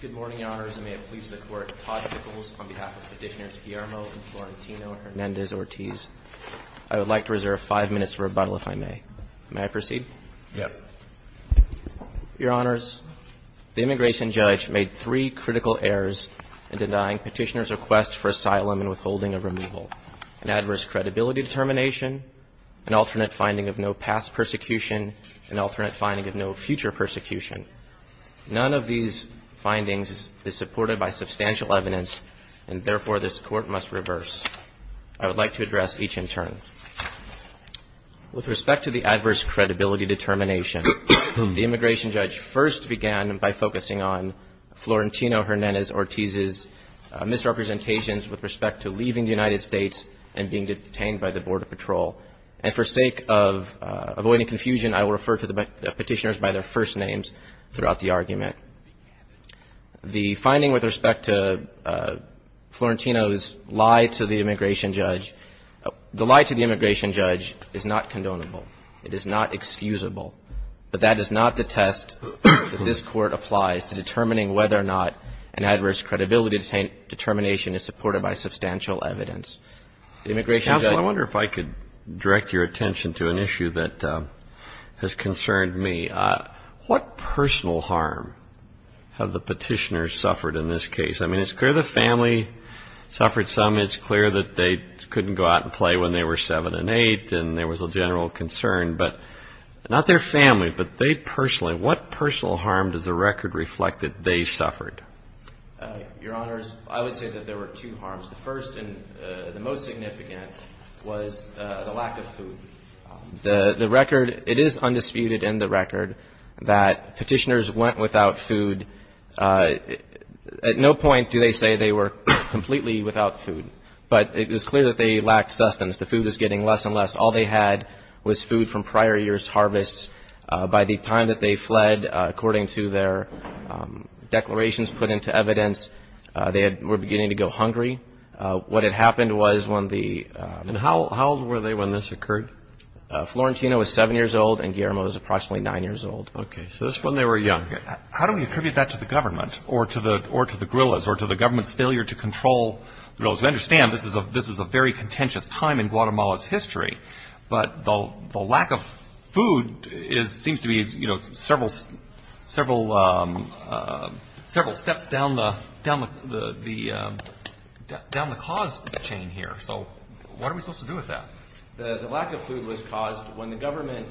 Good morning, Your Honors. I would like to reserve five minutes for rebuttal if I may. May I proceed? Yes. Your Honors, the immigration judge made three critical errors in denying petitioner's request for asylum and withholding of removal. An adverse credibility determination, an alternate finding of no future persecution. None of these findings is supported by substantial evidence and therefore this Court must reverse. I would like to address each in turn. With respect to the adverse credibility determination, the immigration judge first began by focusing on Florentino Hernandez-Ortiz's misrepresentations with respect to leaving the United States and being detained by the Border Patrol. And for sake of avoiding confusion, I will refer to the petitioners by their first names throughout the argument. The finding with respect to Florentino's lie to the immigration judge, the lie to the immigration judge is not condonable. It is not excusable. But that is not the test that this Court applies to determining whether or not an adverse credibility determination is supported by substantial evidence. The immigration judge I wonder if I could direct your attention to an issue that has concerned me. What personal harm have the petitioners suffered in this case? I mean, it's clear the family suffered some. It's clear that they couldn't go out and play when they were 7 and 8 and there was a general concern. But not their family, but they personally, what personal harm does the record reflect that they suffered? Your Honors, I would say that there were two harms. The first and the most significant was the lack of food. The record, it is undisputed in the record that petitioners went without food. At no point do they say they were completely without food. But it was clear that they lacked sustenance. The food was getting less and less. All they had was food from prior years' harvest. By the time that they fled, according to their declarations put into evidence, they were beginning to go hungry. What had happened was when the... And how old were they when this occurred? Florentino was 7 years old and Guillermo was approximately 9 years old. Okay. So this is when they were young. How do we attribute that to the government or to the guerrillas or to the government's failure to control the guerrillas? We understand this is a very contentious time in Guatemala's history, but the lack of food seems to be several steps down the cause chain here. So what are we supposed to do with that? The lack of food was caused when the government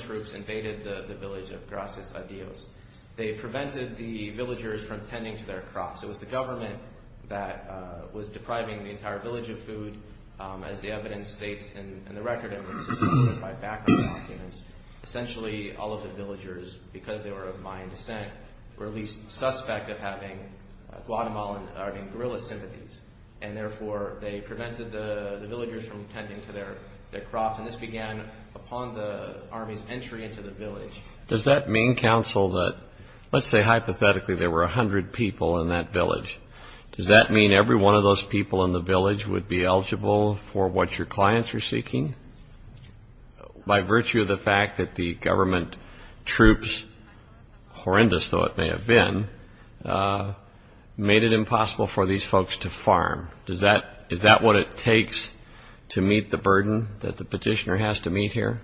troops invaded the village of Gracias Adios. They prevented the villagers from tending to their crops. It was the government that was depriving the entire village of food. As the evidence states in the record, it was villagers, because they were of Mayan descent, were at least suspect of having guerrilla sympathies, and therefore they prevented the villagers from tending to their crops. And this began upon the army's entry into the village. Does that mean, counsel, that... Let's say hypothetically there were 100 people in that village. Does that mean every one of those people in the village would be eligible for what your clients are seeking? By virtue of the fact that the government troops, horrendous though it may have been, made it impossible for these folks to farm. Is that what it takes to meet the burden that the petitioner has to meet here?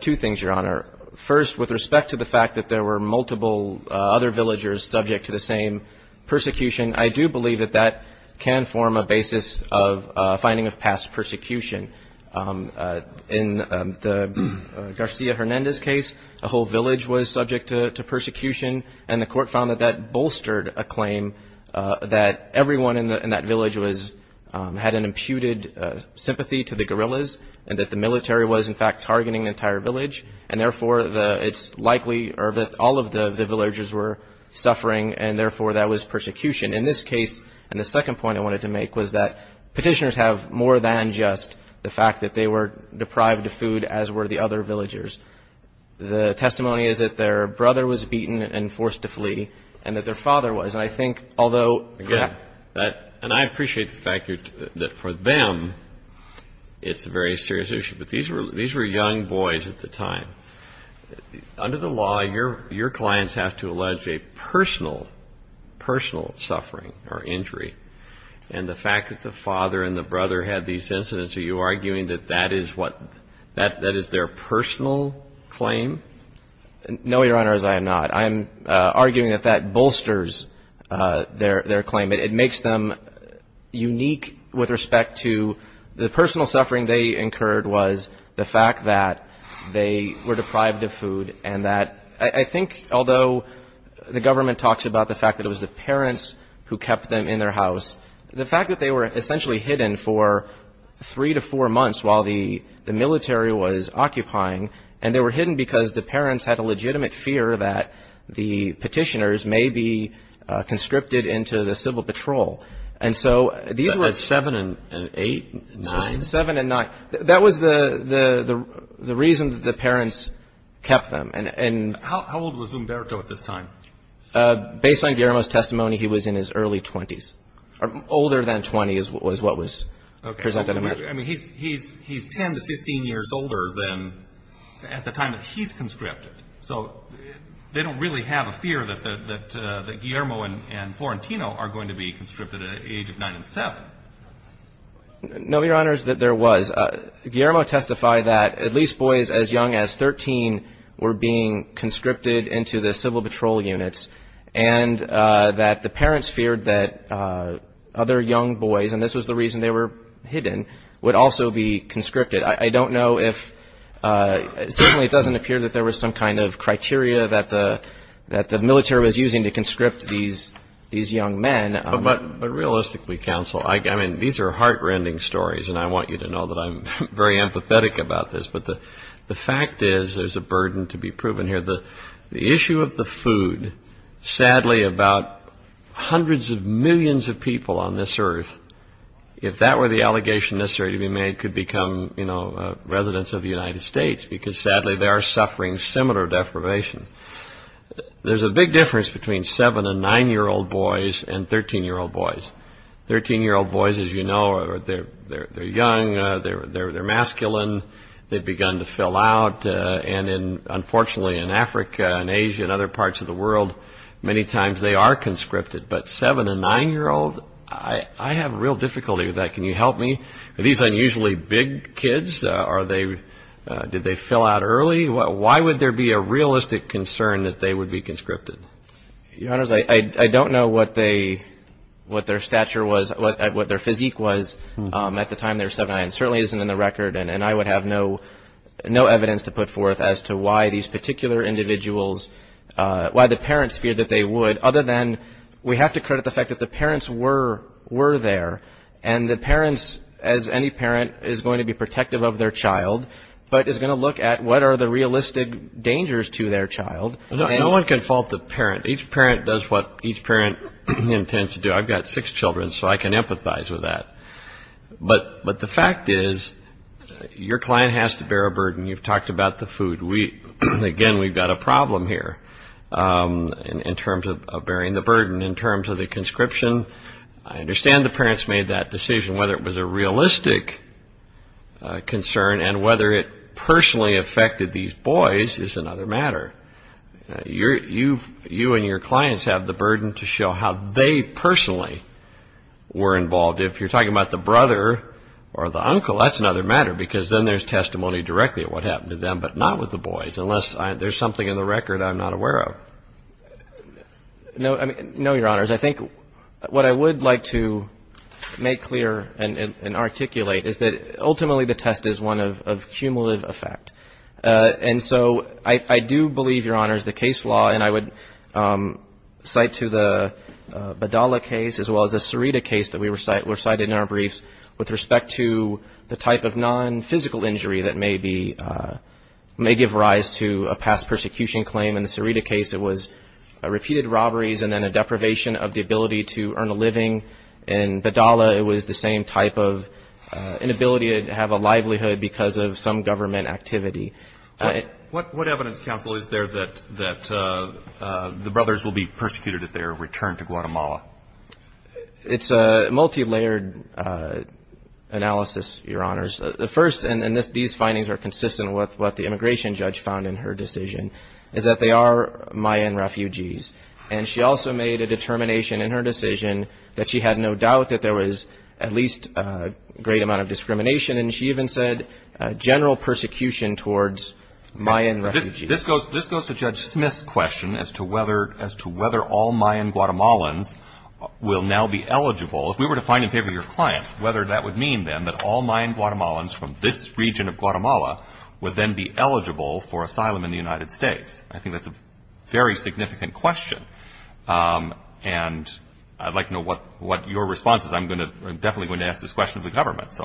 Two things, Your Honor. First, with respect to the fact that there were multiple other villagers subject to the same persecution, I do believe that that can form a basis of finding of past persecution. In the Garcia Hernandez case, a whole village was subject to persecution, and the court found that that bolstered a claim that everyone in that village had an imputed sympathy to the guerrillas, and that the military was, in fact, targeting the entire village, and therefore it's likely that all of the villagers were suffering, and therefore that was persecution. In this case, and the second point I wanted to make, was that petitioners have more than just the fact that they were deprived of food, as were the other villagers. The testimony is that their brother was beaten and forced to flee, and that their father was. And I think, although... Again, and I appreciate the fact that for them it's a very serious issue, but these were young boys at the time. Under the law, your clients have to allege a personal, personal suffering or injury. And the fact that the father and the brother had these incidents, are you arguing that that is what, that is their personal claim? No, Your Honor, as I am not. I am arguing that that bolsters their claim. It makes them unique with respect to the personal suffering they incurred was the fact that they were deprived of food, and that, I think, although the government talks about the fact that it was the petitioners who kept them in their house, the fact that they were essentially hidden for three to four months while the military was occupying, and they were hidden because the parents had a legitimate fear that the petitioners may be conscripted into the civil patrol. And so these were... At seven and eight? Nine? Seven and nine. That was the reason that the parents kept them. How old was Umberto at this time? Based on Guillermo's testimony, he was in his early 20s. Older than 20 is what was presented to me. Okay. I mean, he's ten to 15 years older than at the time that he's conscripted. So they don't really have a fear that Guillermo and Florentino are going to be conscripted at the age of nine and seven. No, Your Honors, there was. Guillermo testified that at least boys as young as 13 were being conscripted into the civil patrol units, and that the parents feared that other young boys, and this was the reason they were hidden, would also be conscripted. I don't know if certainly it doesn't appear that there was some kind of criteria that the military was using to conscript these young men. But realistically, counsel, I mean, these are heart-rending stories, and I want you to know that I'm very empathetic about this. But the fact is there's a burden to be proven here. The issue of the food, sadly, about hundreds of millions of people on this earth, if that were the allegation necessary to be made, could become, you know, residents of the United States, because sadly they are suffering similar deprivation. There's a big difference between seven- and nine-year-old boys and 13-year-old boys. 13-year-old boys, as you know, they're young, they're masculine, they've begun to fill out, and unfortunately in Africa and Asia and other parts of the world, many times they are conscripted. But seven- and nine-year-old, I have real difficulty with that. Can you help me? Are these unusually big kids? Are they, did they fill out early? Why would there be a realistic concern that they would be conscripted? Your Honors, I don't know what their stature was, what their physique was at the time they were seven and nine. It certainly isn't in the record, and I would have no evidence to put forth as to why these particular individuals, why the parents feared that they would, other than we have to credit the fact that the parents were there, and the parents, as any parent, is going to be protective of their child, but is going to look at what are the realistic dangers to their child. No one can fault the parent. Each parent does what each parent intends to do. I've got six children, so I can empathize with that. But the fact is, your client has to bear a burden. You've talked about the food. We, again, we've got a problem here in terms of bearing the burden. In terms of the conscription, I understand the parents made that decision. Whether it was a realistic concern and whether it personally affected these boys is another matter. You and your clients have the burden to show how they personally were involved. If you're talking about the brother or the uncle, that's another matter, because then there's testimony directly of what happened to them, but not with the boys, unless there's something in the record I'm not aware of. No, I mean, no, Your Honors. I think what I would like to make clear and articulate is that ultimately the test is one of cumulative effect. And so I do believe, Your Honors, the case law, and I would cite to the Badala case as well as the Sarita case that we recited in our briefs, with respect to the type of non-physical injury that may be, may give rise to a past persecution claim. In the Sarita case, it was repeated robberies and then a deprivation of the ability to earn a living. In Badala, it was the same type of inability to have a livelihood because of some government activity. What evidence, counsel, is there that the brothers will be persecuted if they are returned to Guatemala? It's a multilayered analysis, Your Honors. The first, and these findings are consistent with what the immigration judge found in her decision, is that they are Mayan refugees. And she also made a determination in her decision that she had no doubt that there was at least a great amount of discrimination, and she even said general persecution towards Mayan refugees. This goes to Judge Smith's question as to whether all Mayan Guatemalans will now be eligible. If we were to find in favor of your client, whether that would mean, then, that all Mayan Guatemalans from this region of Guatemala would then be eligible for asylum in the United States. I think that's a very significant question, and I'd like to know what your response is. I'm definitely going to ask this question of the government.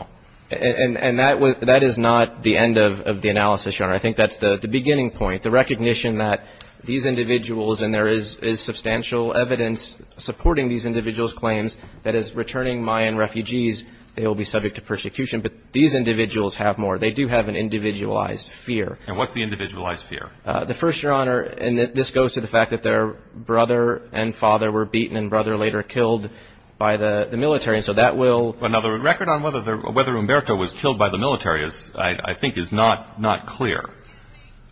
And that is not the end of the analysis, Your Honor. I think that's the beginning point, the recognition that these individuals, and there is substantial evidence supporting these individuals' claims, that as returning Mayan refugees, they will be subject to persecution. But these individuals have more. They do have an individualized fear. And what's the individualized fear? The first, Your Honor, and this goes to the fact that their brother and father were beaten and brother later killed by the military, and so that will Now, the record on whether Humberto was killed by the military, I think, is not clear.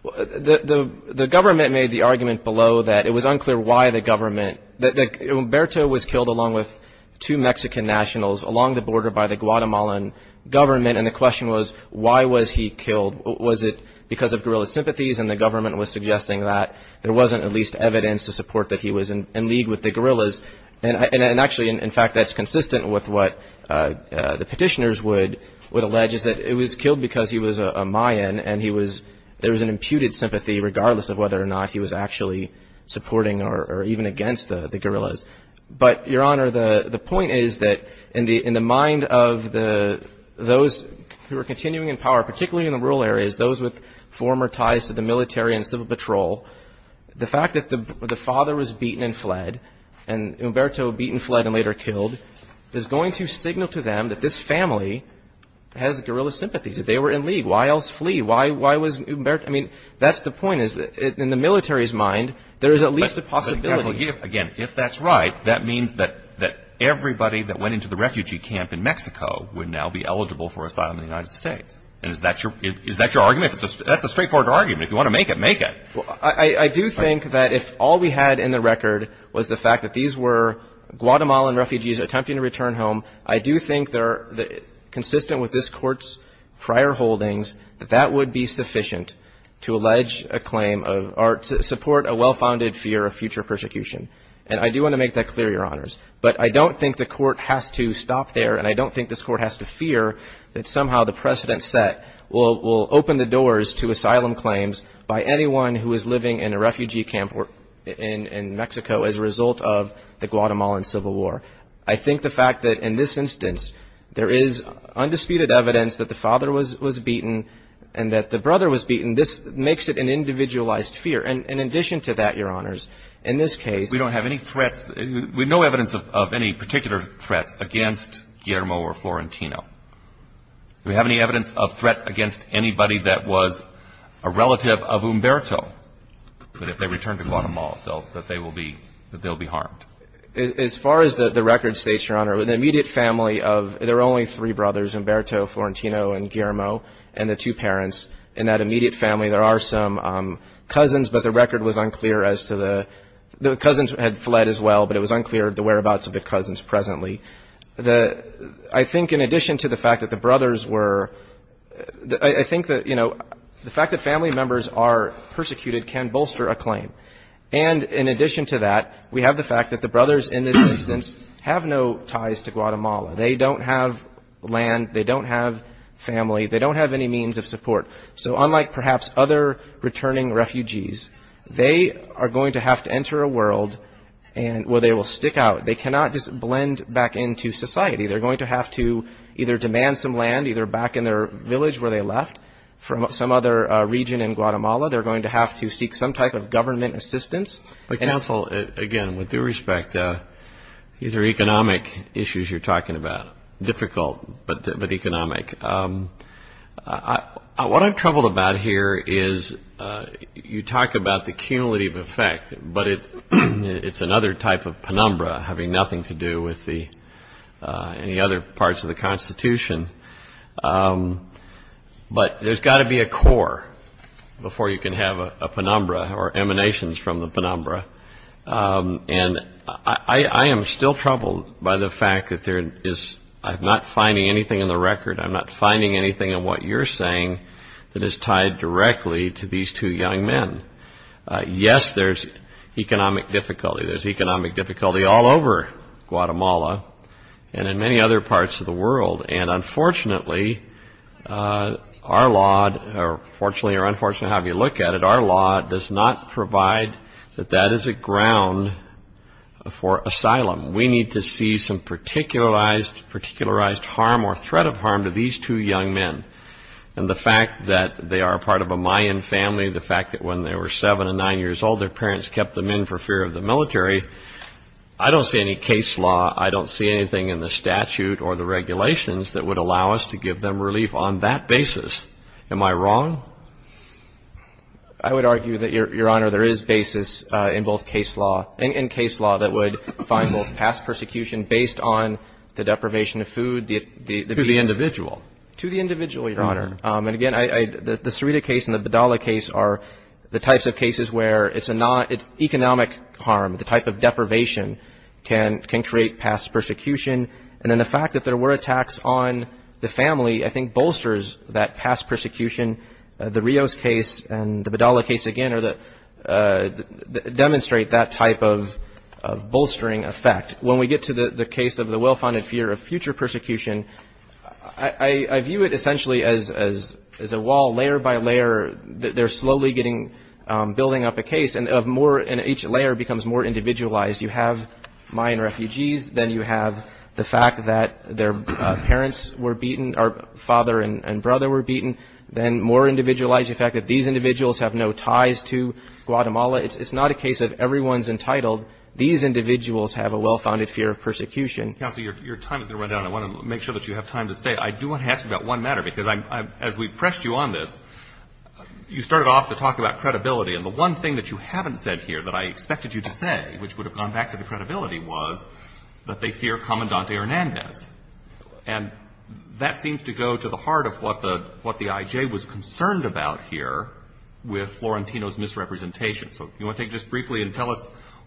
The government made the argument below that it was unclear why the government, that Humberto was killed along with two Mexican nationals along the border by the Guatemalan government, and the question was, why was he killed? Was it because of guerrilla sympathies, and the government was suggesting that there wasn't at least evidence to support that he was in petitioners would allege is that it was killed because he was a Mayan, and he was, there was an imputed sympathy regardless of whether or not he was actually supporting or even against the guerrillas. But, Your Honor, the point is that in the mind of those who are continuing in power, particularly in the rural areas, those with former ties to the military and civil patrol, the fact that the father was beaten and fled, and Humberto beaten, fled, and later killed, is going to signal to them that this family has guerrilla sympathies. If they were in league, why else flee? Why was Humberto, I mean, that's the point. In the military's mind, there is at least a possibility. Again, if that's right, that means that everybody that went into the refugee camp in Mexico would now be eligible for asylum in the United States, and is that your argument? That's a straightforward argument. If you want to make it, make it. I do think that if all we had in the record was the fact that these were Guatemalan refugees attempting to return home, I do think they're consistent with this Court's prior holdings that that would be sufficient to allege a claim of, or to support a well-founded fear of future persecution. And I do want to make that clear, Your Honors. But I don't think the Court has to stop there, and I don't think this Court has to fear that somehow the precedent set will open the doors to asylum claims by anyone who is living in a refugee camp in Mexico as a result of the Guatemalan Civil War. I think the fact that in this instance there is undisputed evidence that the father was beaten and that the brother was beaten, this makes it an individualized fear. And in addition to that, Your Honors, in this case we don't have any threats. We have no evidence of any particular threats against Guillermo or Florentino. Do we have any evidence of threats against anybody that was a relative of Humberto, that if they return to Guatemala that they will be harmed? As far as the record states, Your Honor, the immediate family of, there were only three brothers, Humberto, Florentino, and Guillermo, and the two parents. In that immediate family there are some cousins, but the record was unclear as to the, the cousins had fled as well, but it was unclear the whereabouts of the cousins presently. The, I think in addition to the fact that the brothers were, I think that, you know, the fact that family members are persecuted can bolster a claim. And in addition to that, we have the fact that the brothers in this instance have no ties to Guatemala. They don't have land. They don't have family. They don't have any means of support. So unlike perhaps other returning refugees, they are going to have to enter a world where they will stick out. They cannot just blend back into society. They're going to have to either demand some land either back in their village where they left from some other region in Guatemala. They're going to have to seek some type of government assistance. But counsel, again, with due respect, these are economic issues you're talking about, difficult, but economic. What I'm troubled about here is you talk about the cumulative effect, but it's another type of penumbra having nothing to do with the, any other parts of the Constitution. But there's got to be a core before you can have a penumbra or emanations from the penumbra. And I am still troubled by the fact that there is, I'm not finding anything in the record, I'm not finding anything in what you're saying that is tied directly to these two young men. Yes, there's economic difficulty. There's economic difficulty all over Guatemala and in many other parts of the world. And unfortunately, our law, fortunately or unfortunately, however you look at it, our law does not provide that that is a ground for asylum. We need to see some particularized harm or threat of harm to these two young men. And the fact that they are part of a Mayan family, the fact that when they were seven and nine years old, their parents kept them in for fear of the military, I don't see any case law, I don't see anything in the statute or the regulations that would allow us to give them relief on that basis. Am I wrong? I would argue that, Your Honor, there is basis in both case law, in case law that would find both past persecution based on the deprivation of food. To the individual. To the individual, Your Honor. And again, the Cerita case and the Bedalla case are the types of cases where it's economic harm, the type of deprivation can create past persecution. And then the fact that there were attacks on the family, I think, bolsters that past persecution. The Rios case and the Bedalla case, again, demonstrate that type of bolstering effect. When we get to the case of the well-founded fear of future persecution, I view it essentially as a wall, they're slowly building up a case, and each layer becomes more individualized. You have Mayan refugees, then you have the fact that their parents were beaten, or father and brother were beaten, then more individualized, the fact that these individuals have no ties to Guatemala. It's not a case of everyone's entitled. These individuals have a well-founded fear of persecution. Counselor, your time is going to run down. I want to make sure that you have time to stay. I do want to ask you about one matter, because as we pressed you on this, you started off to talk about credibility. And the one thing that you haven't said here that I expected you to say, which would have gone back to the credibility, was that they fear Comandante Hernandez. And that seems to go to the heart of what the I.J. was concerned about here with Florentino's misrepresentation. So do you want to take this briefly and tell us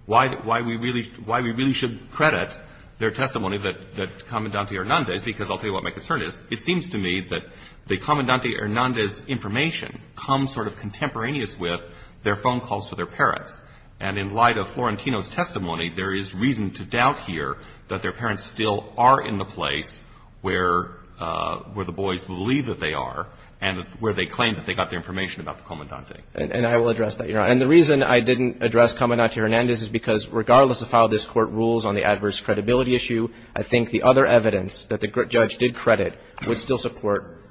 why we really should credit their testimony, that Comandante Hernandez, because I'll tell you what my concern is. It seems to me that the Comandante Hernandez information comes sort of contemporaneous with their phone calls to their parents. And in light of Florentino's testimony, there is reason to doubt here that their parents still are in the place where the boys believe that they are and where they claim that they got their information about the Comandante. And I will address that, Your Honor. And the reason I didn't address Comandante Hernandez is because regardless of how this Court rules on the adverse credibility issue, I think the other evidence that the judge did credit would still support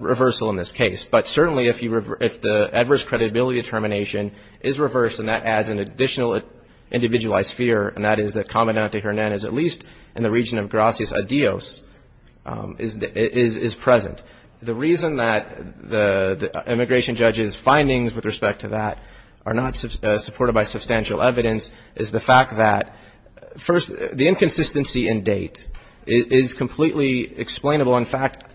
reversal in this case. But certainly if the adverse credibility determination is reversed and that adds an additional individualized fear, and that is that Comandante Hernandez, at least in the region of Gracias a Dios, is present. The reason that the immigration judge's findings with respect to that are not supported by substantial evidence is the fact that, first, the inconsistency in date is completely explainable. In fact,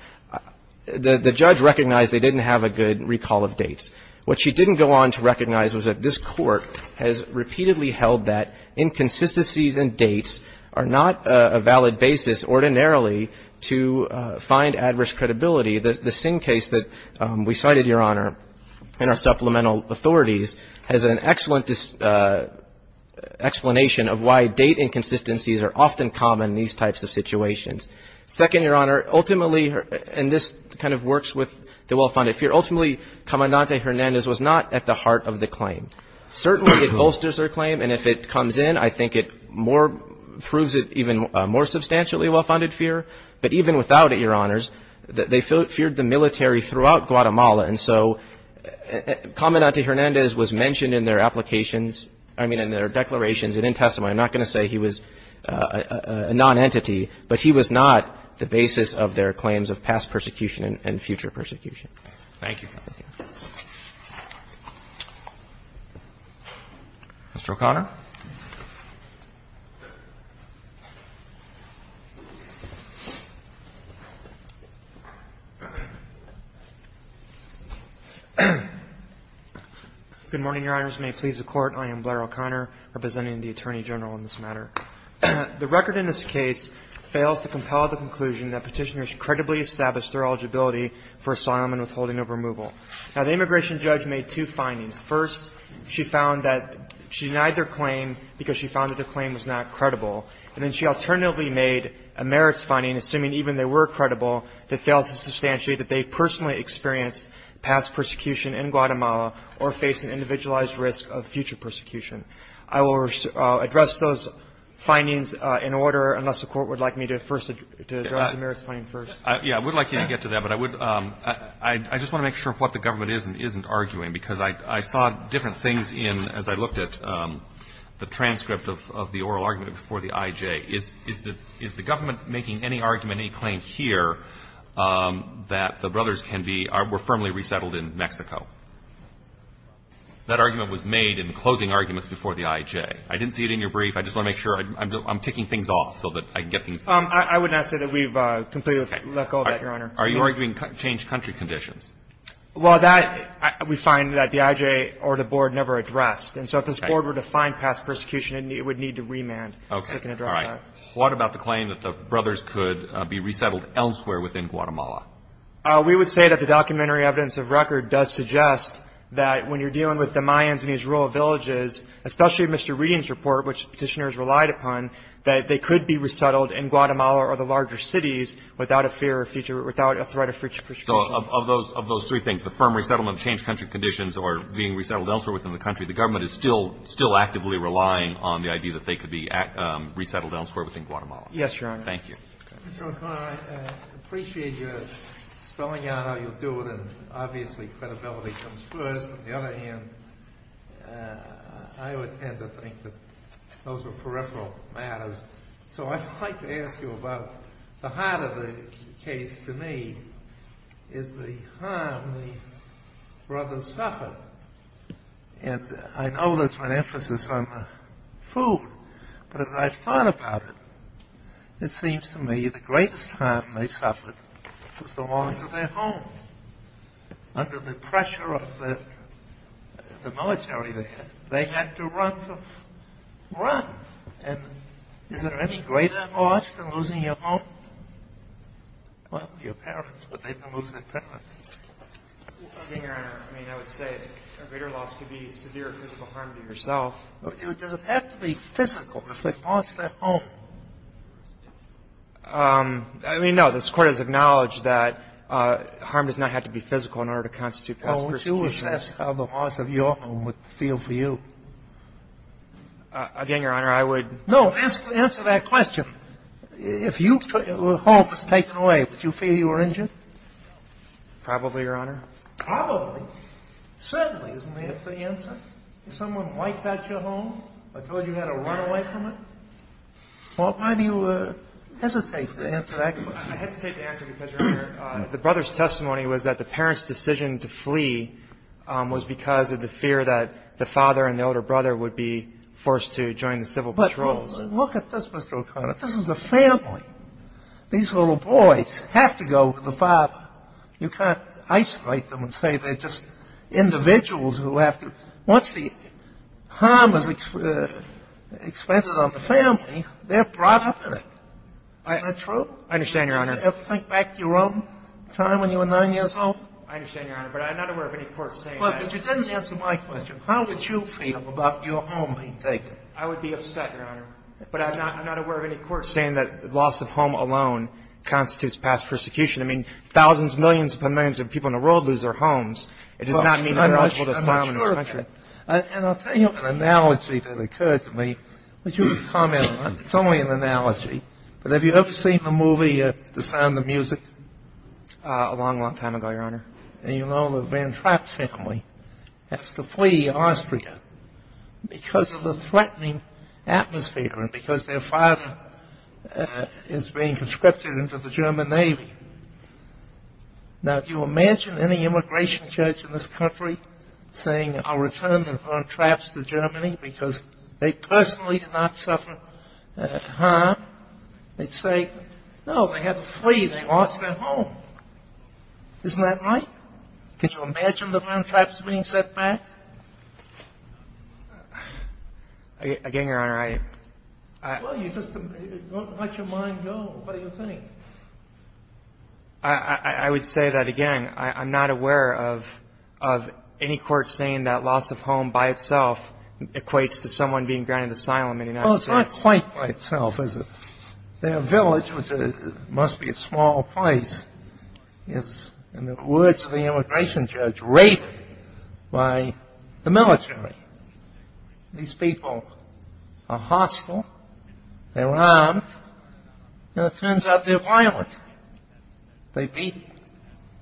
the judge recognized they didn't have a good recall of dates. What she didn't go on to recognize was that this Court has repeatedly held that inconsistencies in dates are not a valid basis ordinarily to find adverse credibility. The Singh case that we cited, Your Honor, in our supplemental authorities, has an excellent explanation of why date inconsistencies are often common in these types of situations. Second, Your Honor, ultimately, and this kind of works with the well-founded fear, ultimately Comandante Hernandez was not at the heart of the claim. Certainly it bolsters her claim, and if it comes in, I think it more proves it even more substantially well-founded fear. But even without it, Your Honors, they feared the military throughout Guatemala, and so Comandante Hernandez was mentioned in their applications, I mean, in their declarations and in testimony. I'm not going to say he was a nonentity, but he was not the basis of their claims of past persecution and future persecution. Thank you. Mr. O'Connor. Good morning, Your Honors. May it please the Court. I am Blair O'Connor, representing the Attorney General in this matter. The record in this case fails to compel the conclusion that Petitioners credibly established their eligibility for asylum and withholding of removal. Now, the immigration judge made two findings. First, she found that she denied their claim because she found that their claim was not credible. And then she alternatively made a merits finding, assuming even they were credible, that failed to substantiate that they personally experienced past persecution in Guatemala or face an individualized risk of future persecution. I will address those findings in order, unless the Court would like me to first address the merits finding first. Yeah, I would like you to get to that, but I would – I just want to make sure what the government is and isn't arguing, because I saw different things in, as I looked at the transcript of the oral argument before the IJ. Is the government making any argument, any claim here that the brothers can be – were firmly resettled in Mexico? That argument was made in closing arguments before the IJ. I didn't see it in your brief. I just want to make sure. I'm ticking things off so that I can get things. I would not say that we've completely let go of that, Your Honor. Are you arguing changed country conditions? Well, that – we find that the IJ or the board never addressed. Okay. And so if this board were to find past persecution, it would need to remand so we can address that. Okay. All right. What about the claim that the brothers could be resettled elsewhere within Guatemala? We would say that the documentary evidence of record does suggest that when you're dealing with the Mayans in these rural villages, especially Mr. Reading's report, which Petitioners relied upon, that they could be resettled in Guatemala or the larger cities without a fear of future – without a threat of future persecution. So of those – of those three things, the firm resettlement, the changed country conditions, or being resettled elsewhere within the country, the government is still – still actively relying on the idea that they could be resettled elsewhere within Guatemala. Yes, Your Honor. Thank you. Mr. O'Connor, I appreciate your spelling out how you do it, and obviously credibility comes first. On the other hand, I would tend to think that those are peripheral matters. So I'd like to ask you about – the heart of the case to me is the harm the brothers suffered. And I know there's been emphasis on the food, but as I've thought about it, it seems to me the greatest harm they suffered was the loss of their home. Under the pressure of the military, they had to run to run. And is there any greater loss than losing your home? Well, your parents, but they didn't lose their parents. I mean, Your Honor, I mean, I would say a greater loss could be severe physical harm to yourself. Does it have to be physical if they've lost their home? I mean, no. This Court has acknowledged that harm does not have to be physical in order to constitute past persecution. Well, would you assess how the loss of your home would feel for you? Again, Your Honor, I would – No. Answer that question. If your home was taken away, would you feel you were injured? Probably, Your Honor. Probably. Certainly, isn't that the answer? If someone wiped out your home or told you how to run away from it? Why do you hesitate to answer that question? I hesitate to answer because, Your Honor, the brother's testimony was that the parents' decision to flee was because of the fear that the father and the older brother would be forced to join the civil patrols. But look at this, Mr. O'Connor. This is a family. These little boys have to go to the father. You can't isolate them and say they're just individuals who have to – Once the harm is expended on the family, they're brought up in it. Isn't that true? I understand, Your Honor. Did you ever think back to your own time when you were 9 years old? I understand, Your Honor. But I'm not aware of any court saying that. But you didn't answer my question. How would you feel about your home being taken? I would be upset, Your Honor. But I'm not aware of any court saying that the loss of home alone constitutes past persecution. I mean, thousands, millions upon millions of people in the world lose their homes. It does not mean they're eligible to asylum in this country. And I'll tell you an analogy that occurred to me. Would you comment on it? It's only an analogy. But have you ever seen the movie The Sound of Music? A long, long time ago, Your Honor. And you know the Van Trapp family has to flee Austria because of the threatening atmosphere and because their father is being conscripted into the German Navy. Now, do you imagine any immigration judge in this country saying, I'll return the Van Trapps to Germany because they personally did not suffer harm? They'd say, no, they had to flee. They lost their home. Isn't that right? Could you imagine the Van Trapps being sent back? Again, Your Honor, I — Well, you just don't let your mind go. What do you think? I would say that, again, I'm not aware of any court saying that loss of home by itself equates to someone being granted asylum in the United States. Well, it's not quite by itself, is it? Their village, which must be a small place, is, in the words of the immigration judge, raided by the military. These people are hostile. They're armed. And it turns out they're violent. They beat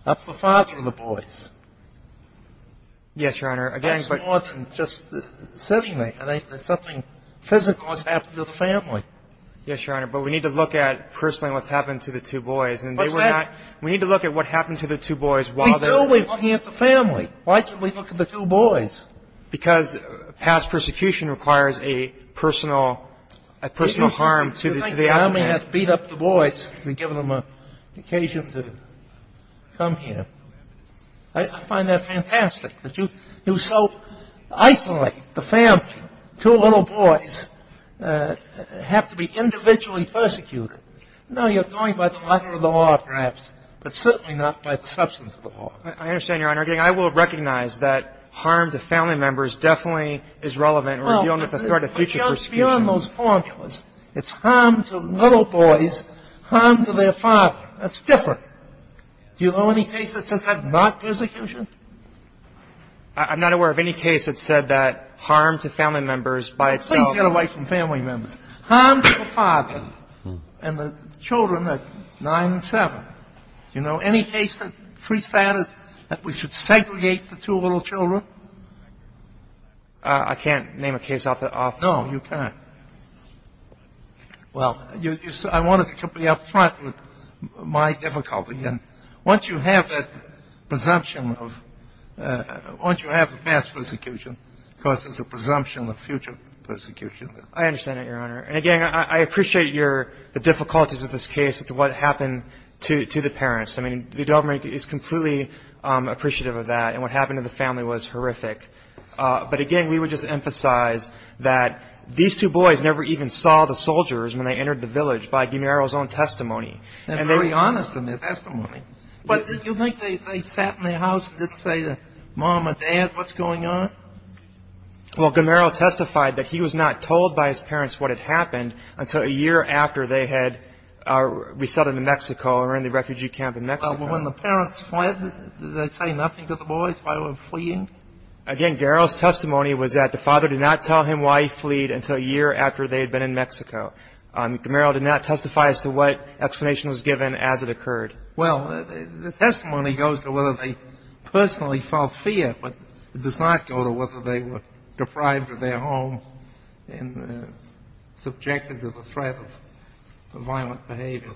up the father of the boys. Yes, Your Honor. That's more than just sitting there. There's something physical that's happened to the family. Yes, Your Honor. But we need to look at personally what's happened to the two boys. And they were not — What's happened? We need to look at what happened to the two boys while they were — We do. We're looking at the family. Why should we look at the two boys? Because past persecution requires a personal — a personal harm to the — You think the army has beat up the boys and given them an occasion to come here. I find that fantastic that you so isolate the family. Two little boys have to be individually persecuted. No, you're going by the letter of the law, perhaps, but certainly not by the substance of the law. I understand, Your Honor. And I will recognize that harm to family members definitely is relevant. We're dealing with the threat of future persecution. It's beyond those foreign courts. It's harm to little boys, harm to their father. That's different. Do you know any case that says that's not persecution? I'm not aware of any case that said that harm to family members by itself — Please get away from family members. Harm to the father and the children at 9 and 7. Do you know any case that prestates that we should segregate the two little children? I can't name a case off the — No, you can't. Well, I wanted to be up front with my difficulty. And once you have that presumption of — once you have the past persecution, of course, there's a presumption of future persecution. I understand that, Your Honor. And, again, I appreciate your — the difficulties of this case with what happened to the parents. I mean, the government is completely appreciative of that. And what happened to the family was horrific. But, again, we would just emphasize that these two boys never even saw the soldiers when they entered the village by Guimero's own testimony. They're very honest in their testimony. But do you think they sat in their house and didn't say to mom or dad, what's going on? Well, Guimero testified that he was not told by his parents what had happened until a year after they had resettled in Mexico or in the refugee camp in Mexico. When the parents fled, did they say nothing to the boys while they were fleeing? Again, Guimero's testimony was that the father did not tell him why he fleed until a year after they had been in Mexico. Guimero did not testify as to what explanation was given as it occurred. Well, the testimony goes to whether they personally felt fear, but it does not go to whether they were deprived of their home and subjected to the threat of violent behavior.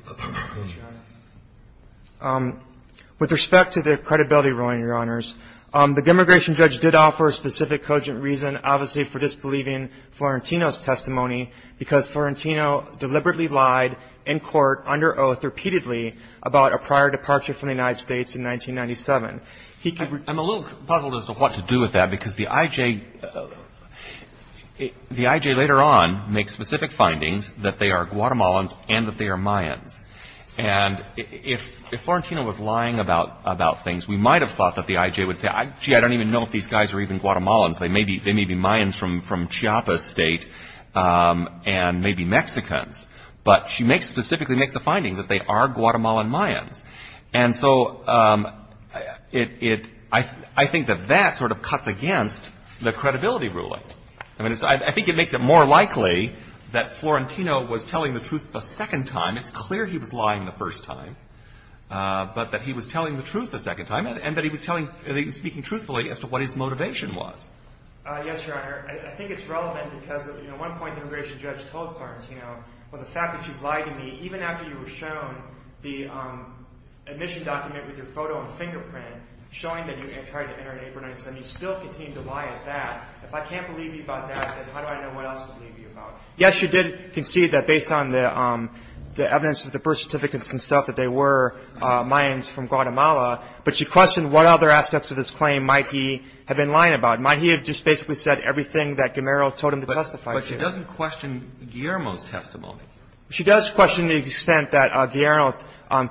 With respect to their credibility ruling, Your Honors, the demigration judge did offer a specific cogent reason, obviously for disbelieving Florentino's testimony, because Florentino deliberately lied in court under oath repeatedly about a prior departure from the United States in 1997. I'm a little puzzled as to what to do with that, because the IJ later on makes specific findings that they are Guatemalans and that they are Mayans. And if Florentino was lying about things, we might have thought that the IJ would say, gee, I don't even know if these guys are even Guatemalans. They may be Mayans from Chiapas State and may be Mexicans. But she specifically makes a finding that they are Guatemalan Mayans. And so I think that that sort of cuts against the credibility ruling. I mean, I think it makes it more likely that Florentino was telling the truth the second time. It's clear he was lying the first time, but that he was telling the truth the second time and that he was speaking truthfully as to what his motivation was. Yes, Your Honor. I think it's relevant because, you know, at one point the immigration judge told Florentino, well, the fact that you've lied to me, even after you were shown the admission document with your photo and fingerprint showing that you had tried to enter an apron and so on, you still continue to lie at that. If I can't believe you about that, then how do I know what else to believe you about? Yes, you did concede that based on the evidence of the birth certificates and stuff that they were Mayans from Guatemala. But she questioned what other aspects of his claim might he have been lying about. Might he have just basically said everything that Guimero told him to testify to? But she doesn't question Guillermo's testimony. She does question the extent that Guillermo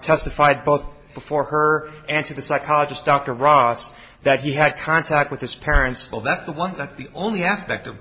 testified both before her and to the psychologist, Dr. Ross, that he had contact with his parents. Well, that's the one – that's the only aspect of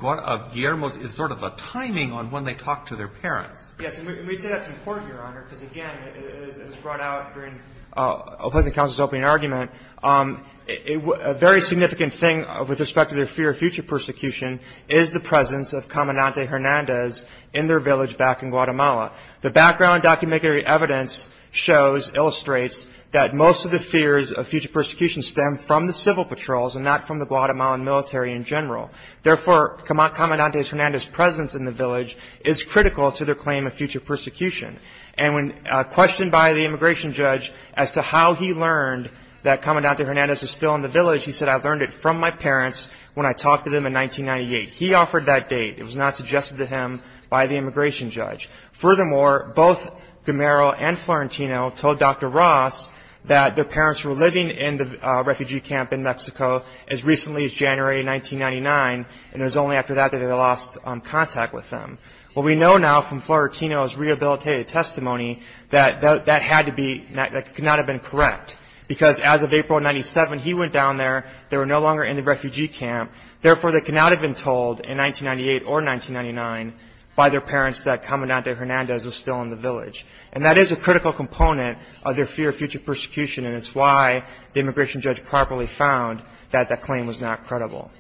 Guillermo's is sort of a timing on when they talk to their parents. Yes, and we say that's important, Your Honor, because, again, it was brought out during Opposing Counsel's opening argument. A very significant thing with respect to their fear of future persecution is the presence of Comandante Hernandez in their village back in Guatemala. The background documentary evidence shows, illustrates that most of the fears of future persecution stem from the civil patrols and not from the Guatemalan military in general. Therefore, Comandante Hernandez's presence in the village is critical to their claim of future persecution. And when questioned by the immigration judge as to how he learned that Comandante Hernandez was still in the village, he said, I learned it from my parents when I talked to them in 1998. He offered that date. It was not suggested to him by the immigration judge. Furthermore, both Guimero and Florentino told Dr. Ross that their parents were living in the refugee camp in Mexico as recently as January 1999, and it was only after that that they lost contact with them. Well, we know now from Florentino's rehabilitative testimony that that had to be, that could not have been correct, because as of April of 97, he went down there. They were no longer in the refugee camp. Therefore, they could not have been told in 1998 or 1999 by their parents that Comandante Hernandez was still in the village. And that is a critical component of their fear of future persecution, and it's why the immigration judge properly found that that claim was not credible.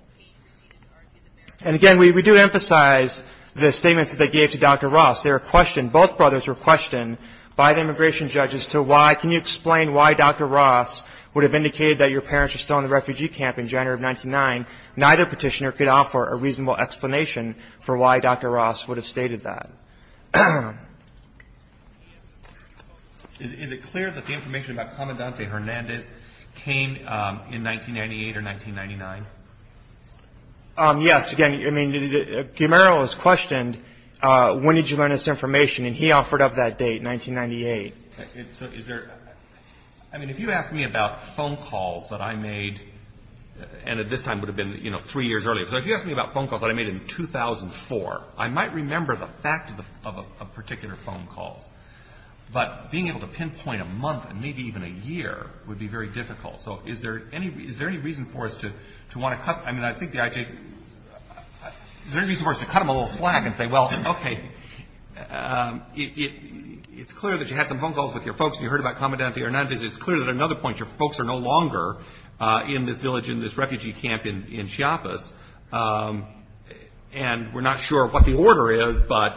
And, again, we do emphasize the statements that they gave to Dr. Ross. They were questioned, both brothers were questioned by the immigration judge as to why, can you explain why Dr. Ross would have indicated that your parents were still in the refugee camp in January of 99? Neither petitioner could offer a reasonable explanation for why Dr. Ross would have stated that. Is it clear that the information about Comandante Hernandez came in 1998 or 1999? Yes. Again, I mean, Guimero was questioned, when did you learn this information, and he offered up that date, 1998. I mean, if you ask me about phone calls that I made, and at this time it would have been, you know, three years earlier. So if you ask me about phone calls that I made in 2004, I might remember the fact of a particular phone call. But being able to pinpoint a month and maybe even a year would be very difficult. So is there any reason for us to want to cut, I mean, I think the IG, is there any reason for us to cut him a little flag and say, well, okay, it's clear that you had some phone calls with your folks and you heard about Comandante Hernandez. Is it clear that another point, your folks are no longer in this village, in this refugee camp in Chiapas, and we're not sure what the order is, but.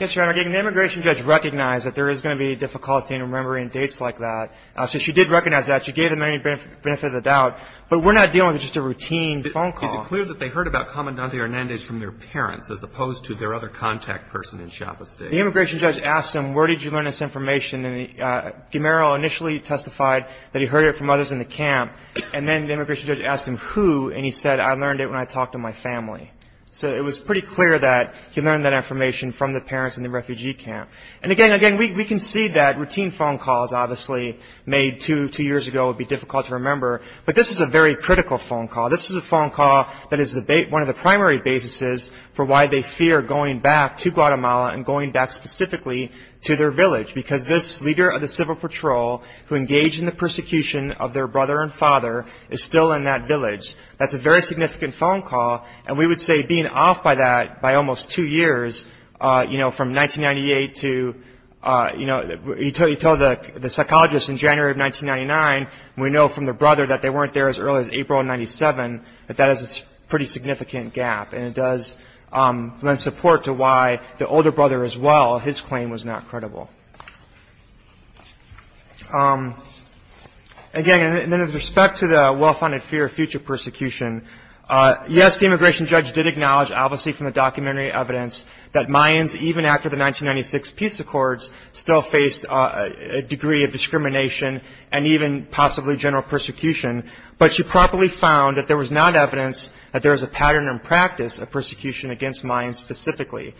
Yes, Your Honor. Again, the immigration judge recognized that there is going to be difficulty in remembering dates like that. So she did recognize that. She gave them any benefit of the doubt. But we're not dealing with just a routine phone call. Is it clear that they heard about Comandante Hernandez from their parents as opposed to their other contact person in Chiapas State? The immigration judge asked him, where did you learn this information? And Guimero initially testified that he heard it from others in the camp. And then the immigration judge asked him who, and he said, I learned it when I talked to my family. So it was pretty clear that he learned that information from the parents in the refugee camp. And, again, we can see that routine phone calls, obviously, made two years ago would be difficult to remember. But this is a very critical phone call. This is a phone call that is one of the primary basis for why they fear going back to Guatemala and going back specifically to their village, because this leader of the civil patrol who engaged in the persecution of their brother and father is still in that village. That's a very significant phone call. And we would say being off by that by almost two years, you know, from 1998 to, you know, you tell the psychologists in January of 1999, we know from their brother that they weren't there as early as April of 97, that that is a pretty significant gap. And it does lend support to why the older brother as well, his claim was not credible. Again, in respect to the well-founded fear of future persecution, yes, the immigration judge did acknowledge, obviously from the documentary evidence, that Mayans, even after the 1996 peace accords, still faced a degree of discrimination and even possibly general persecution. But she probably found that there was not evidence that there was a pattern in practice of persecution against Mayans specifically.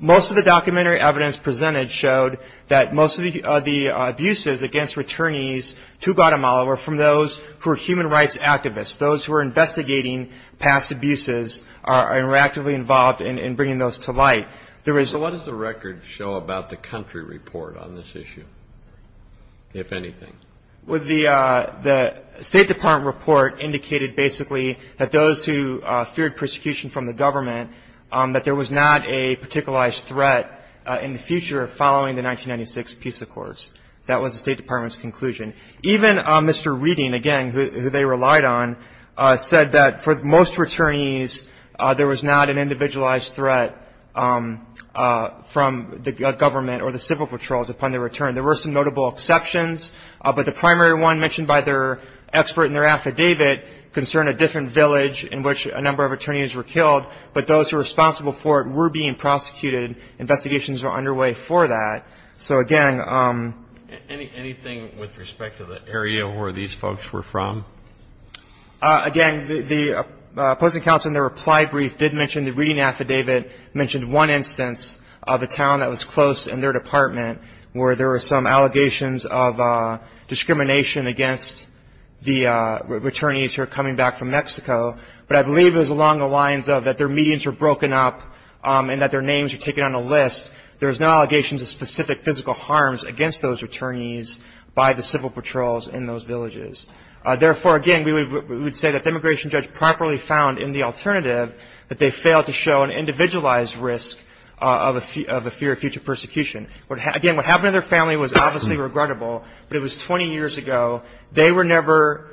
Most of the documentary evidence presented showed that most of the abuses against returnees to Guatemala were from those who were human rights activists, those who were investigating past abuses and were actively involved in bringing those to light. So what does the record show about the country report on this issue, if anything? Well, the State Department report indicated basically that those who feared persecution from the government, that there was not a particularized threat in the future following the 1996 peace accords. That was the State Department's conclusion. Even Mr. Reading, again, who they relied on, said that for most returnees, there was not an individualized threat from the government or the civil patrols upon their return. There were some notable exceptions, but the primary one mentioned by their expert in their affidavit concerned a different village in which a number of returnees were killed, but those who were responsible for it were being prosecuted. Investigations are underway for that. So, again, anything with respect to the area where these folks were from? Again, the opposing counsel in their reply brief did mention the Reading affidavit mentioned one instance of a town that was close in their department where there were some allegations of discrimination against the returnees who were coming back from Mexico, but I believe it was along the lines of that their medians were broken up and that their names were taken on a list. There was no allegations of specific physical harms against those returnees by the civil patrols in those villages. Therefore, again, we would say that the immigration judge properly found in the alternative that they failed to show an individualized risk of a fear of future persecution. Again, what happened to their family was obviously regrettable, but it was 20 years ago. They were never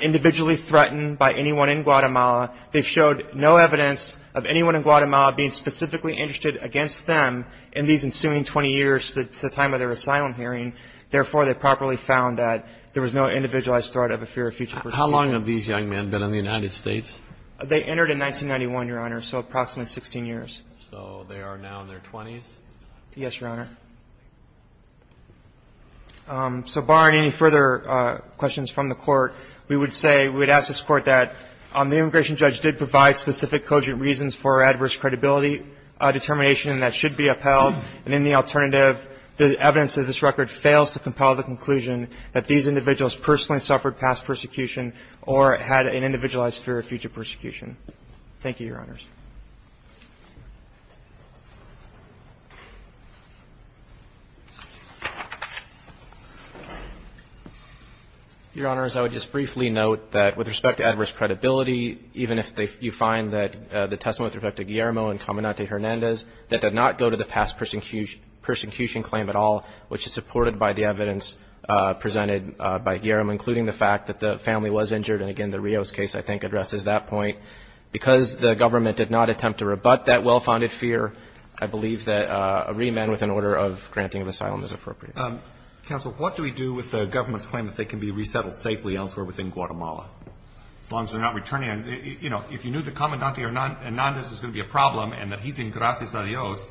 individually threatened by anyone in Guatemala. They showed no evidence of anyone in Guatemala being specifically interested against them in these ensuing 20 years, the time of their asylum hearing. Therefore, they properly found that there was no individualized threat of a fear of future persecution. How long have these young men been in the United States? They entered in 1991, Your Honor, so approximately 16 years. So they are now in their 20s? Yes, Your Honor. So barring any further questions from the Court, we would say we would ask this Court that the immigration judge did provide specific cogent reasons for adverse credibility determination that should be upheld. And in the alternative, the evidence of this record fails to compel the conclusion that these individuals personally suffered past persecution or had an individualized fear of future persecution. Thank you, Your Honors. Your Honors, I would just briefly note that with respect to adverse credibility, even if you find that the testimony with respect to Guillermo and Cominante Hernandez, that did not go to the past persecution claim at all, which is supported by the evidence presented by Guillermo, including the fact that the family was injured. And, again, the Rios case, I think, addresses that point. Because the government did not attempt to rebut that well-founded fear, I believe that a reamend with an order of granting of asylum is appropriate. Counsel, what do we do with the government's claim that they can be resettled safely elsewhere within Guatemala, as long as they're not returning? You know, if you knew that Cominante Hernandez is going to be a problem and that he's in Gracias a Dios,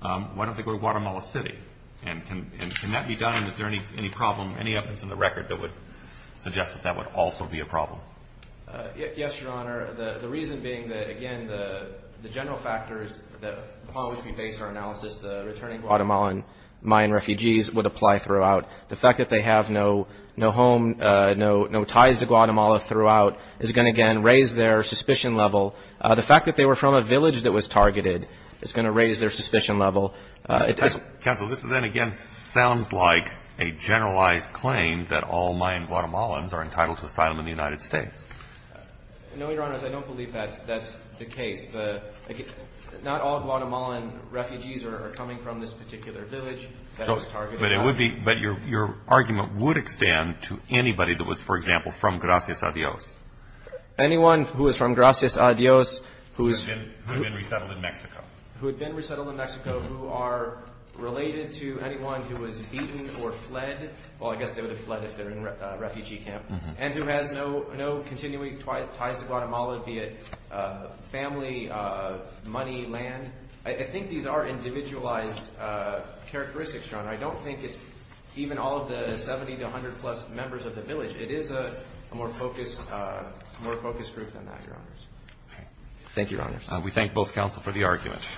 why don't they go to Guatemala City and can that be done? Is there any problem, any evidence in the record that would suggest that that would also be a problem? Yes, Your Honor. The reason being that, again, the general factors upon which we base our analysis, the returning Guatemalan Mayan refugees would apply throughout. The fact that they have no home, no ties to Guatemala throughout, is going to, again, raise their suspicion level. The fact that they were from a village that was targeted is going to raise their suspicion level. Counsel, this then, again, sounds like a generalized claim that all Mayan Guatemalans are entitled to asylum in the United States. No, Your Honor. I don't believe that's the case. Not all Guatemalan refugees are coming from this particular village that was targeted. But it would be – but your argument would extend to anybody that was, for example, from Gracias a Dios. Anyone who is from Gracias a Dios who is – Who had been resettled in Mexico. Who had been resettled in Mexico who are related to anyone who was beaten or fled. Well, I guess they would have fled if they were in a refugee camp. And who has no continuing ties to Guatemala, be it family, money, land. I think these are individualized characteristics, Your Honor. I don't think it's even all of the 70 to 100 plus members of the village. It is a more focused group than that, Your Honors. Thank you, Your Honors. We thank both counsel for the argument.